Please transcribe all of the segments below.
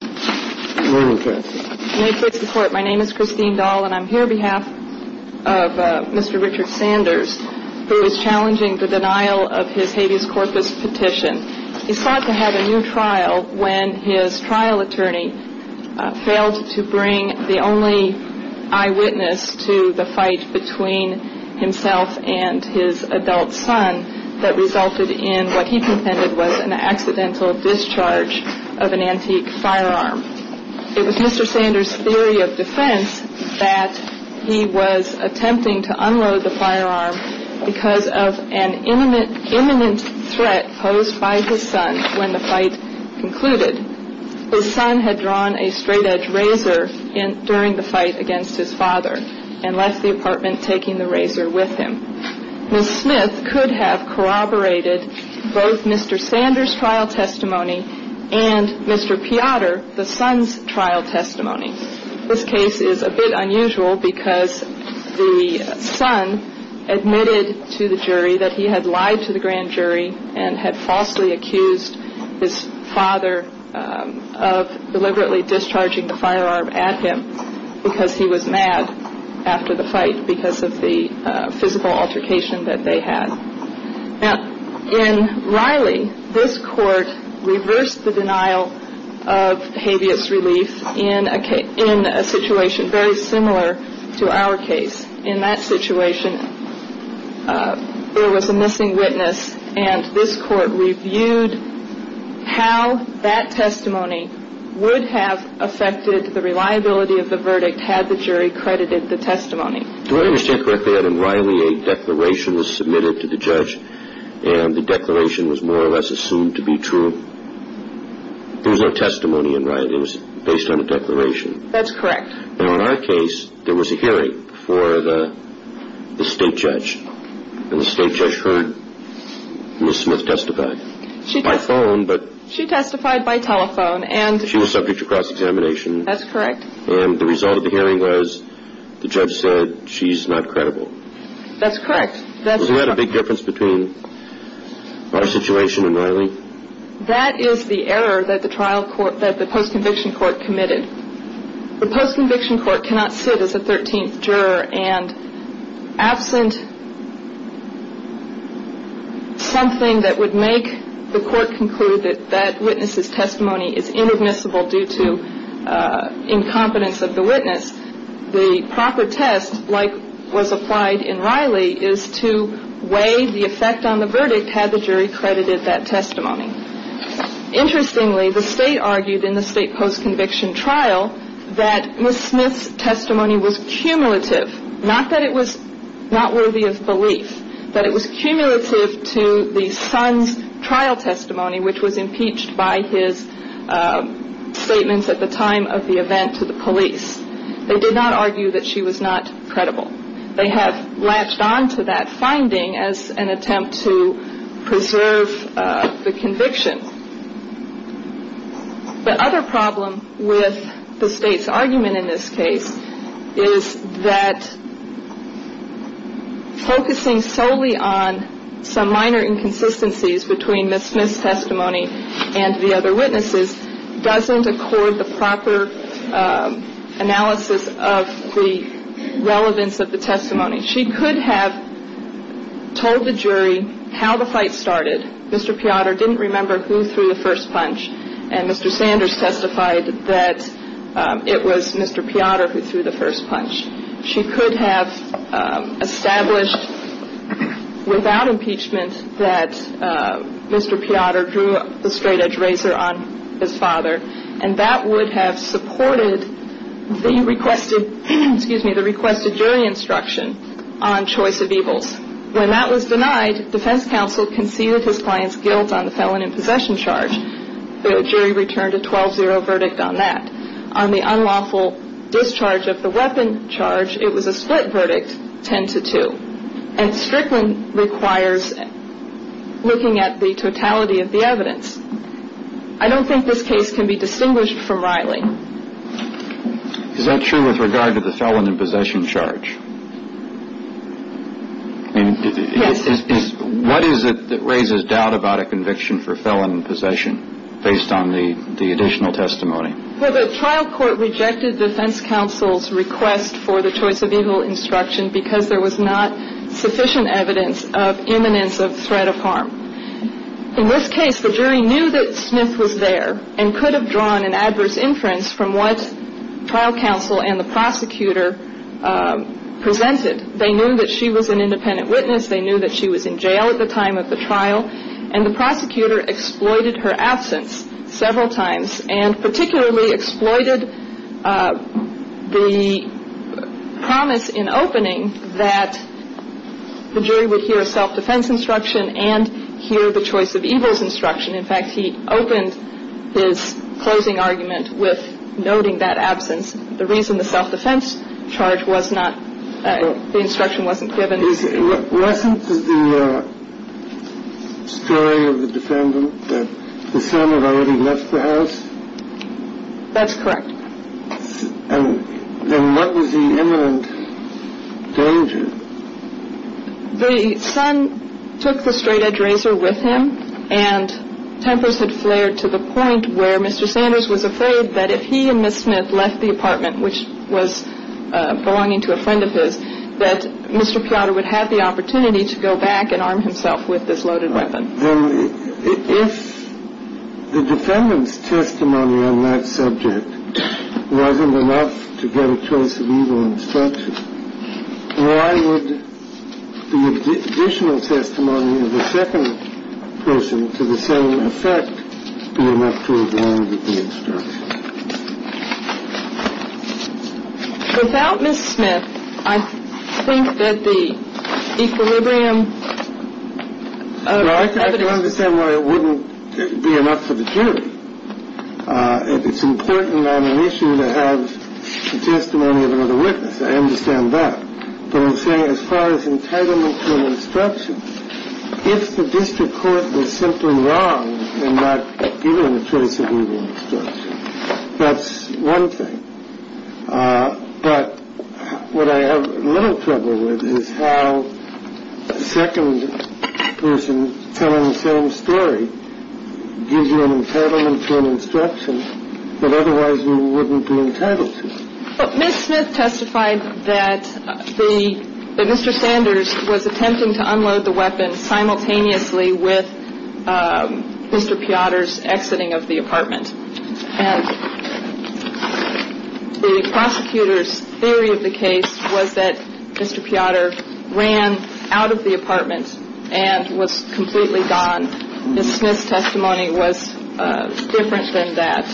My name is Christine Dahl, and I'm here on behalf of Mr. Richard Sanders, who is challenging the denial of his habeas corpus petition. He sought to have a new trial when his trial attorney failed to bring the only eyewitness to the fight between himself and his adult son that resulted in what he contended was an accidental discharge of an antique firearm. It was Mr. Sanders' theory of defense that he was attempting to unload the firearm because of an imminent threat posed by his son when the fight concluded. His son had drawn a straightedge razor during the fight against his father and left the apartment taking the razor with him. Ms. Smith could have corroborated both Mr. Sanders' trial testimony and Mr. Piotr, the son's trial testimony. This case is a bit unusual because the son admitted to the jury that he had lied to the grand jury and had falsely accused his father of deliberately discharging the firearm at him because he was mad after the fight because of the physical altercation that they had. Now, in Riley, this court reversed the denial of habeas relief in a situation very similar to our case. In that situation, there was a missing witness and this court reviewed how that testimony would have affected the reliability of the verdict had the jury credited the testimony. Do I understand correctly that in Riley, a declaration was submitted to the judge and the declaration was more or less assumed to be true? There was no testimony in Riley. It was based on a declaration. That's correct. Now, in our case, there was a hearing for the state judge and the state judge heard Ms. Smith testify by phone. She testified by telephone. She was subject to cross-examination. That's correct. And the result of the hearing was the judge said she's not credible. That's correct. Isn't that a big difference between our situation and Riley? That is the error that the post-conviction court committed. The post-conviction court cannot sit as a 13th juror and absent something that would make the court conclude that that witness's testimony is inadmissible due to incompetence of the witness, the proper test, like was applied in Riley, is to weigh the effect on the verdict had the jury credited that testimony. Interestingly, the state argued in the state post-conviction trial that Ms. Smith's testimony was cumulative, not that it was not worthy of belief, but it was cumulative to the son's trial testimony, which was impeached by his statements at the time of the event to the police. They did not argue that she was not credible. They have latched on to that finding as an attempt to preserve the conviction. The other problem with the state's argument in this case is that focusing solely on some minor inconsistencies between Ms. Smith's testimony and the other witnesses doesn't accord the proper analysis of the relevance of the testimony. She could have told the jury how the fight started. Mr. Piotr didn't remember who threw the first punch, and Mr. Sanders testified that it was Mr. Piotr who threw the first punch. She could have established without impeachment that Mr. Piotr drew the straightedge razor on his father, and that would have supported the requested jury instruction on choice of evils. When that was denied, defense counsel conceded his client's guilt on the felon in possession charge. The jury returned a 12-0 verdict on that. On the unlawful discharge of the weapon charge, it was a split verdict, 10-2, and Strickland requires looking at the totality of the evidence. I don't think this case can be distinguished from Riley. Is that true with regard to the felon in possession charge? Yes. What is it that raises doubt about a conviction for felon in possession based on the additional testimony? Well, the trial court rejected defense counsel's request for the choice of evil instruction because there was not sufficient evidence of imminence of threat of harm. In this case, the jury knew that Smith was there and could have drawn an adverse inference from what trial counsel and the prosecutor presented. They knew that she was an independent witness. They knew that she was in jail at the time of the trial, and the prosecutor exploited her absence several times, and particularly exploited the promise in opening that the jury would hear a self-defense instruction and hear the choice of evil's instruction. In fact, he opened his closing argument with noting that absence. The reason the self-defense charge was not the instruction wasn't given. Wasn't the story of the defendant that the son had already left the house? That's correct. And what was the imminent danger? The son took the straight-edge razor with him, and tempers had flared to the point where Mr. Sanders was afraid that if he and Ms. Smith left the apartment, which was belonging to a friend of his, that Mr. Piotr would have the opportunity to go back and arm himself with this loaded weapon. If the defendant's testimony on that subject wasn't enough to get a choice of evil instruction, why would the additional testimony of the second person to the same effect be enough to avoid the instruction? Without Ms. Smith, I think that the equilibrium of evidence… Well, I can understand why it wouldn't be enough for the jury. It's important on an issue to have the testimony of another witness. I understand that. But I'm saying as far as entitlement to an instruction, if the district court was simply wrong in not giving a choice of evil instruction, that's one thing. But what I have little trouble with is how the second person telling the same story gives you an entitlement to an instruction that otherwise you wouldn't be entitled to. Ms. Smith testified that Mr. Sanders was attempting to unload the weapon simultaneously with Mr. Piotr's exiting of the apartment. And the prosecutor's theory of the case was that Mr. Piotr ran out of the apartment and was completely gone. Ms. Smith's testimony was different than that,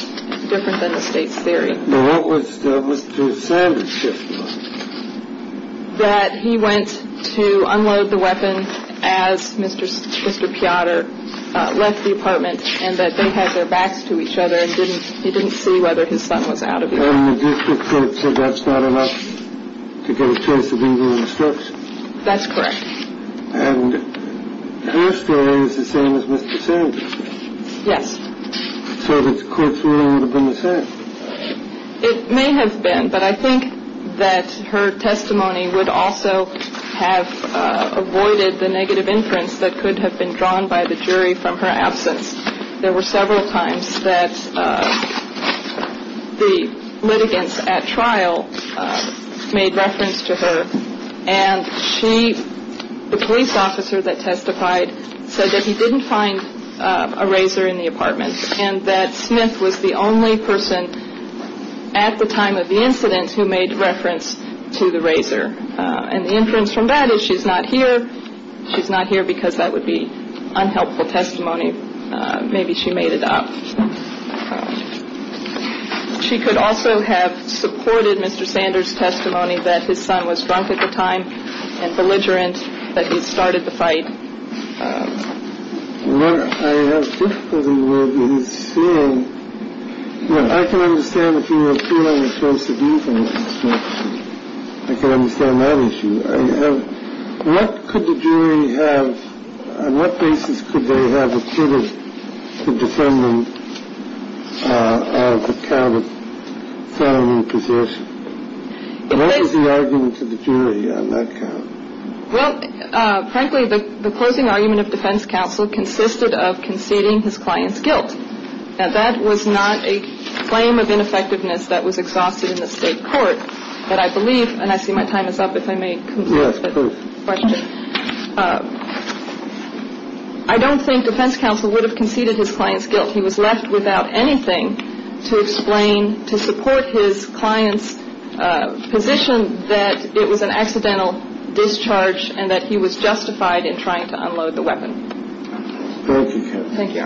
different than the state's theory. What was Mr. Sanders' testimony? That he went to unload the weapon as Mr. Piotr left the apartment and that they had their backs to each other and he didn't see whether his son was out of the apartment. And the district court said that's not enough to get a choice of evil instruction. That's correct. And your story is the same as Mr. Sanders'. Yes. So the court's ruling would have been the same. It may have been, but I think that her testimony would also have avoided the negative inference that could have been drawn by the jury from her absence. There were several times that the litigants at trial made reference to her and the police officer that testified said that he didn't find a razor in the apartment and that Smith was the only person at the time of the incident who made reference to the razor. And the inference from that is she's not here. She's not here because that would be unhelpful testimony. Maybe she made it up. She could also have supported Mr. Sanders' testimony that his son was drunk at the time and belligerent, that he started the fight. What I have difficulty with is seeing, you know, I can understand the feeling of choice of evil instruction. I can understand that issue. What could the jury have, on what basis could they have acquitted the defendant of the count of felony possession? What is the argument to the jury on that count? Well, frankly, the closing argument of defense counsel consisted of conceding his client's guilt. Now, that was not a claim of ineffectiveness that was exhausted in the state court, but I believe, and I see my time is up, if I may conclude this question. I don't think defense counsel would have conceded his client's guilt. He was left without anything to explain, to support his client's position that it was an accidental discharge and that he was justified in trying to unload the weapon. Thank you.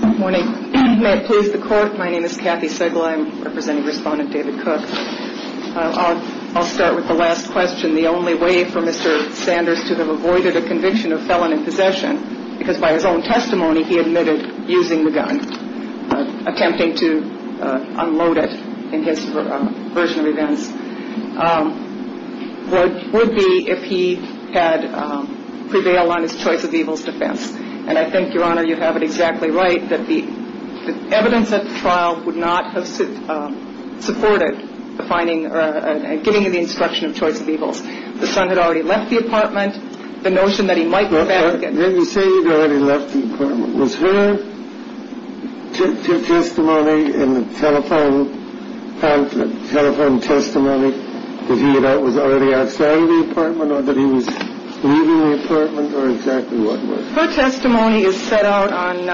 Good morning. May it please the Court. My name is Kathy Sigel. I'm representing Respondent David Cook. I'll start with the last question. The only way for Mr. Sanders to have avoided a conviction of felony possession, because by his own testimony he admitted using the gun, attempting to unload it in his version of events, would be if he had prevailed on his choice of evils defense. And I think, Your Honor, you have it exactly right that the evidence at the trial would not have supported the finding or giving you the instruction of choice of evils. The son had already left the apartment. The notion that he might go back again. Didn't say he'd already left the apartment. Was her testimony in the telephone conference, telephone testimony, that he was already outside of the apartment or that he was leaving the apartment or exactly what? Her testimony is set out on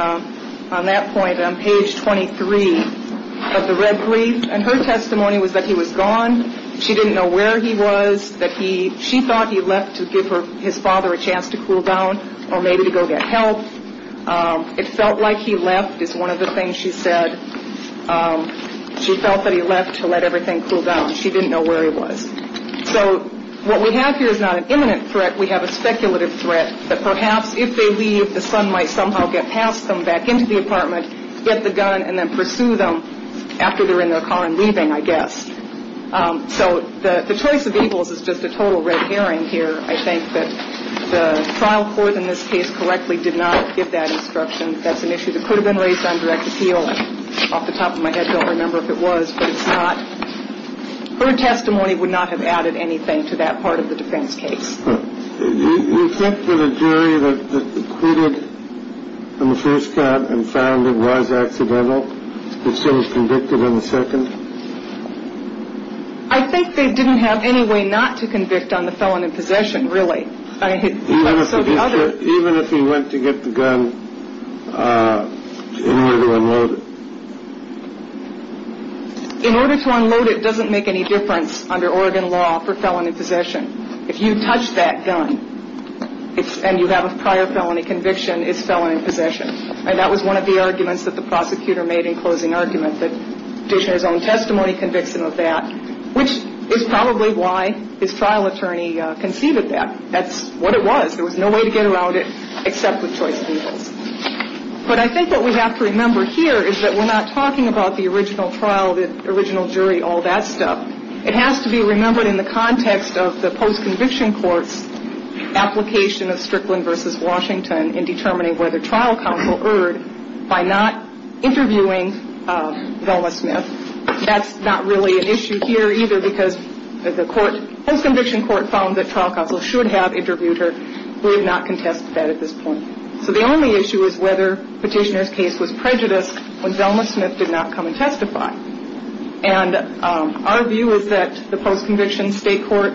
that point on page 23 of the red brief. And her testimony was that he was gone. She didn't know where he was. She thought he left to give his father a chance to cool down or maybe to go get help. It felt like he left is one of the things she said. She felt that he left to let everything cool down. She didn't know where he was. So what we have here is not an imminent threat. We have a speculative threat that perhaps if they leave, the son might somehow get past them back into the apartment, get the gun and then pursue them after they're in their car and leaving, I guess. So the choice of evils is just a total red herring here. I think that the trial court in this case correctly did not give that instruction. That's an issue that could have been raised on direct appeal. Off the top of my head, I don't remember if it was, but it's not. Her testimony would not have added anything to that part of the defense case. You think that a jury that acquitted him the first time and found him was accidental, but still was convicted on the second? I think they didn't have any way not to convict on the felon in possession, really. Even if he went to get the gun in order to unload it? In order to unload it doesn't make any difference under Oregon law for felon in possession. If you touch that gun and you have a prior felony conviction, it's felon in possession. And that was one of the arguments that the prosecutor made in closing argument, that Dishner's own testimony convicts him of that, which is probably why his trial attorney conceived of that. That's what it was. There was no way to get around it except with choice of evils. But I think what we have to remember here is that we're not talking about the original trial, the original jury, all that stuff. It has to be remembered in the context of the post-conviction court's application of Strickland v. Washington in determining whether trial counsel erred by not interviewing Velma Smith. That's not really an issue here either because the post-conviction court found that trial counsel should have interviewed her. We have not contested that at this point. So the only issue is whether Petitioner's case was prejudiced when Velma Smith did not come and testify. And our view is that the post-conviction state court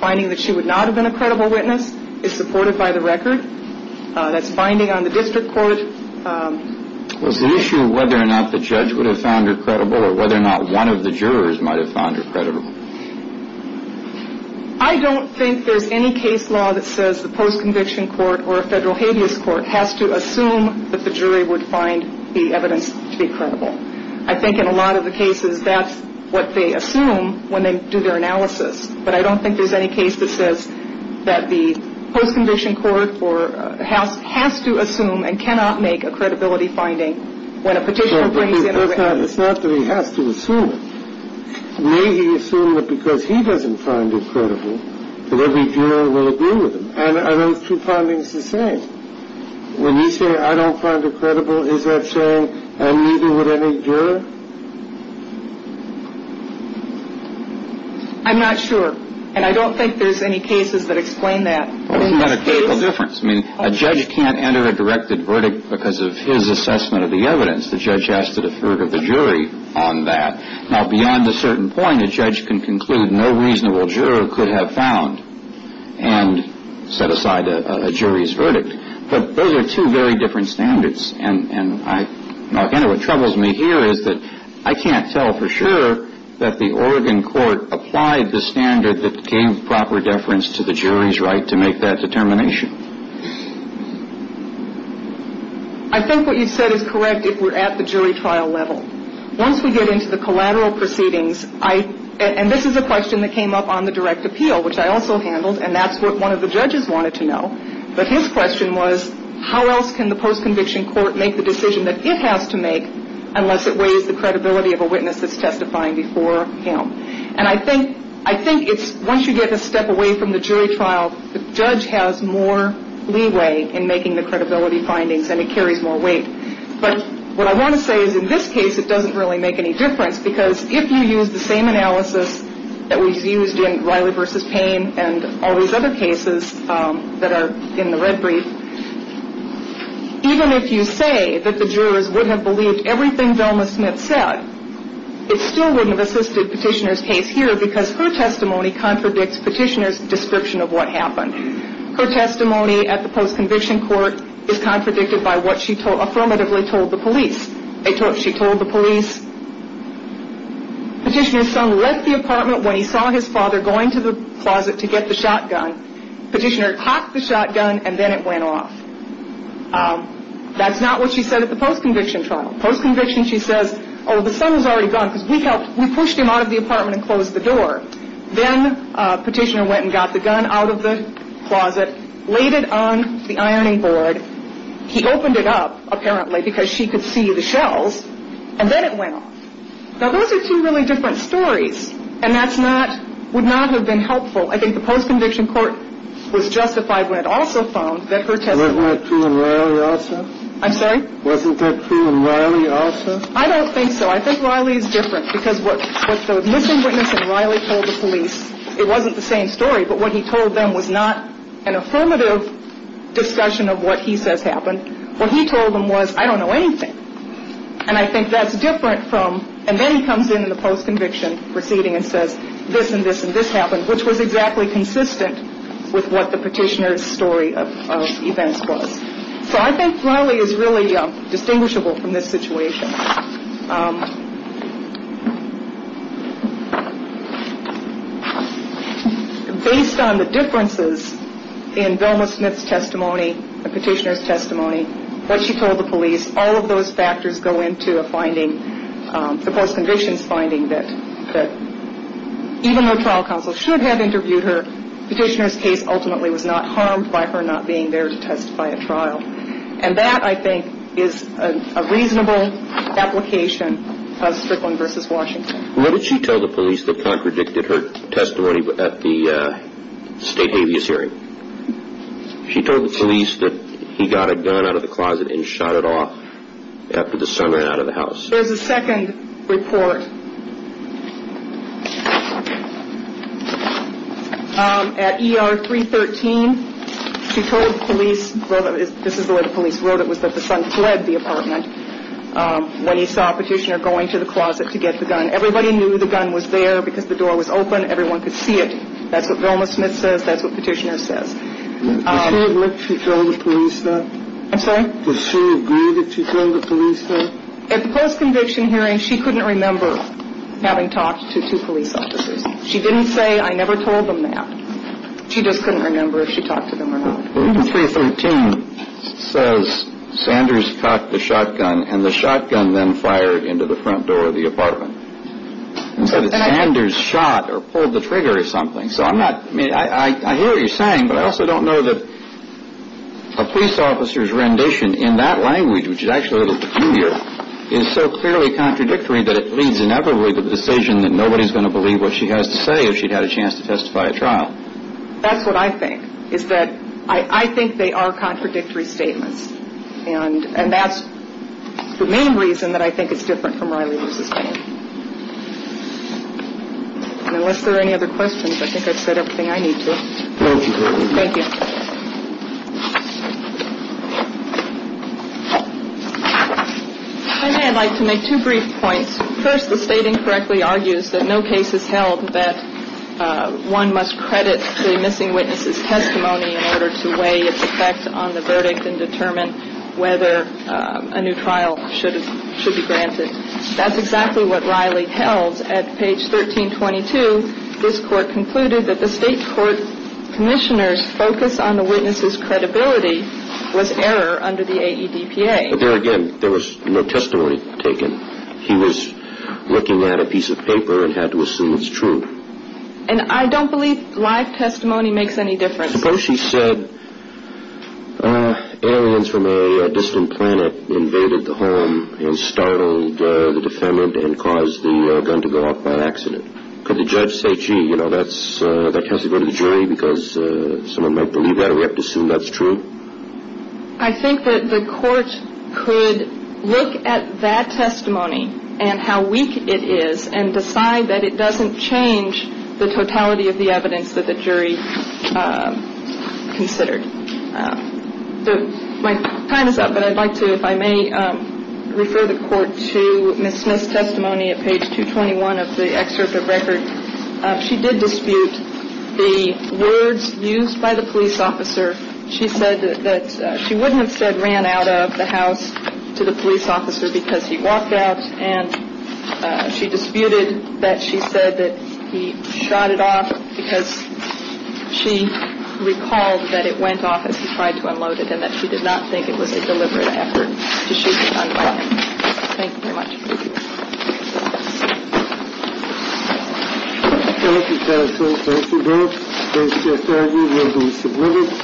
finding that she would not have been a credible witness is supported by the record. That's binding on the district court. Was the issue whether or not the judge would have found her credible or whether or not one of the jurors might have found her credible? I don't think there's any case law that says the post-conviction court or a federal habeas court has to assume that the jury would find the evidence to be credible. I think in a lot of the cases that's what they assume when they do their analysis. But I don't think there's any case that says that the post-conviction court has to assume and cannot make a credibility finding when a petitioner brings in a witness. It's not that he has to assume it. May he assume that because he doesn't find her credible that every juror will agree with him. And are those two findings the same? When you say, I don't find her credible, is that saying, and neither would any juror? I'm not sure. And I don't think there's any cases that explain that. Well, isn't that a critical difference? I mean, a judge can't enter a directed verdict because of his assessment of the evidence. The judge has to defer to the jury on that. Now, beyond a certain point, a judge can conclude no reasonable juror could have found and set aside a jury's verdict. But those are two very different standards. And, again, what troubles me here is that I can't tell for sure that the Oregon court applied the standard that gave proper deference to the jury's right to make that determination. I think what you said is correct if we're at the jury trial level. Once we get into the collateral proceedings, and this is a question that came up on the direct appeal, which I also handled, and that's what one of the judges wanted to know. But his question was, how else can the post-conviction court make the decision that it has to make unless it weighs the credibility of a witness that's testifying before him? And I think it's once you get a step away from the jury trial, the judge has more leeway in making the credibility findings, and it carries more weight. But what I want to say is in this case it doesn't really make any difference because if you use the same analysis that was used in Riley v. Payne and all these other cases that are in the red brief, even if you say that the jurors would have believed everything Velma Smith said, it still wouldn't have assisted Petitioner's case here because her testimony contradicts Petitioner's description of what happened. Her testimony at the post-conviction court is contradicted by what she affirmatively told the police. She told the police Petitioner's son left the apartment when he saw his father going to the closet to get the shotgun. Petitioner cocked the shotgun, and then it went off. That's not what she said at the post-conviction trial. Post-conviction she says, oh, the son was already gone because we helped. We pushed him out of the apartment and closed the door. Then Petitioner went and got the gun out of the closet, laid it on the ironing board. He opened it up, apparently, because she could see the shells, and then it went off. Now, those are two really different stories, and that would not have been helpful. I think the post-conviction court was justified when it also found that her testimony— Wasn't that true in Riley also? I'm sorry? Wasn't that true in Riley also? I don't think so. I think Riley is different because what the missing witness in Riley told the police, it wasn't the same story, but what he told them was not an affirmative discussion of what he says happened. What he told them was, I don't know anything, and I think that's different from— And then he comes in in the post-conviction proceeding and says, this and this and this happened, which was exactly consistent with what the Petitioner's story of events was. So I think Riley is really distinguishable from this situation. Based on the differences in Velma Smith's testimony, the Petitioner's testimony, what she told the police, all of those factors go into a finding, the post-conviction's finding, that even though trial counsel should have interviewed her, the Petitioner's case ultimately was not harmed by her not being there to testify at trial. And that, I think, is a reasonable application of Strickland v. Washington. What did she tell the police that contradicted her testimony at the state habeas hearing? She told the police that he got a gun out of the closet and shot it off after the son ran out of the house. There's a second report. At ER 313, she told the police—this is the way the police wrote it, was that the son fled the apartment when he saw Petitioner going to the closet to get the gun. Everybody knew the gun was there because the door was open. Everyone could see it. That's what Velma Smith says. That's what Petitioner says. Did she admit she told the police that? I'm sorry? Did she agree that she told the police that? At the post-conviction hearing, she couldn't remember having talked to two police officers. She didn't say, I never told them that. She just couldn't remember if she talked to them or not. Room 313 says Sanders cocked the shotgun, and the shotgun then fired into the front door of the apartment. And said that Sanders shot or pulled the trigger or something. So I'm not—I mean, I hear what you're saying, but I also don't know that a police officer's rendition in that language, which is actually a little peculiar, is so clearly contradictory that it leads inevitably to the decision that nobody's going to believe what she has to say if she'd had a chance to testify at trial. That's what I think, is that I think they are contradictory statements. And that's the main reason that I think it's different from Riley v. Payne. And unless there are any other questions, I think I've said everything I need to. Thank you. I'd like to make two brief points. First, the state incorrectly argues that no case is held that one must credit the missing witness's testimony in order to weigh its effect on the verdict and determine whether a new trial should be granted. That's exactly what Riley held. Because at page 1322, this court concluded that the state court commissioner's focus on the witness's credibility was error under the AEDPA. But there again, there was no testimony taken. He was looking at a piece of paper and had to assume it's true. And I don't believe live testimony makes any difference. Suppose she said, aliens from a distant planet invaded the home and startled the defendant and caused the gun to go off by accident. Could the judge say, gee, you know, that has to go to the jury because someone might believe that or have to assume that's true? I think that the court could look at that testimony and how weak it is and decide that it doesn't change the totality of the evidence that the jury considered. My time is up, but I'd like to, if I may, refer the court to Ms. Smith's testimony at page 221 of the excerpt of record. She did dispute the words used by the police officer. She said that she wouldn't have said ran out of the house to the police officer because he walked out. And she disputed that she said that he shot it off because she recalled that it went off as he tried to unload it and that she did not think it was a deliberate effort to shoot it unloaded. Thank you very much. Thank you, counsel. Thank you very much. The case is adjourned. You will be submitted.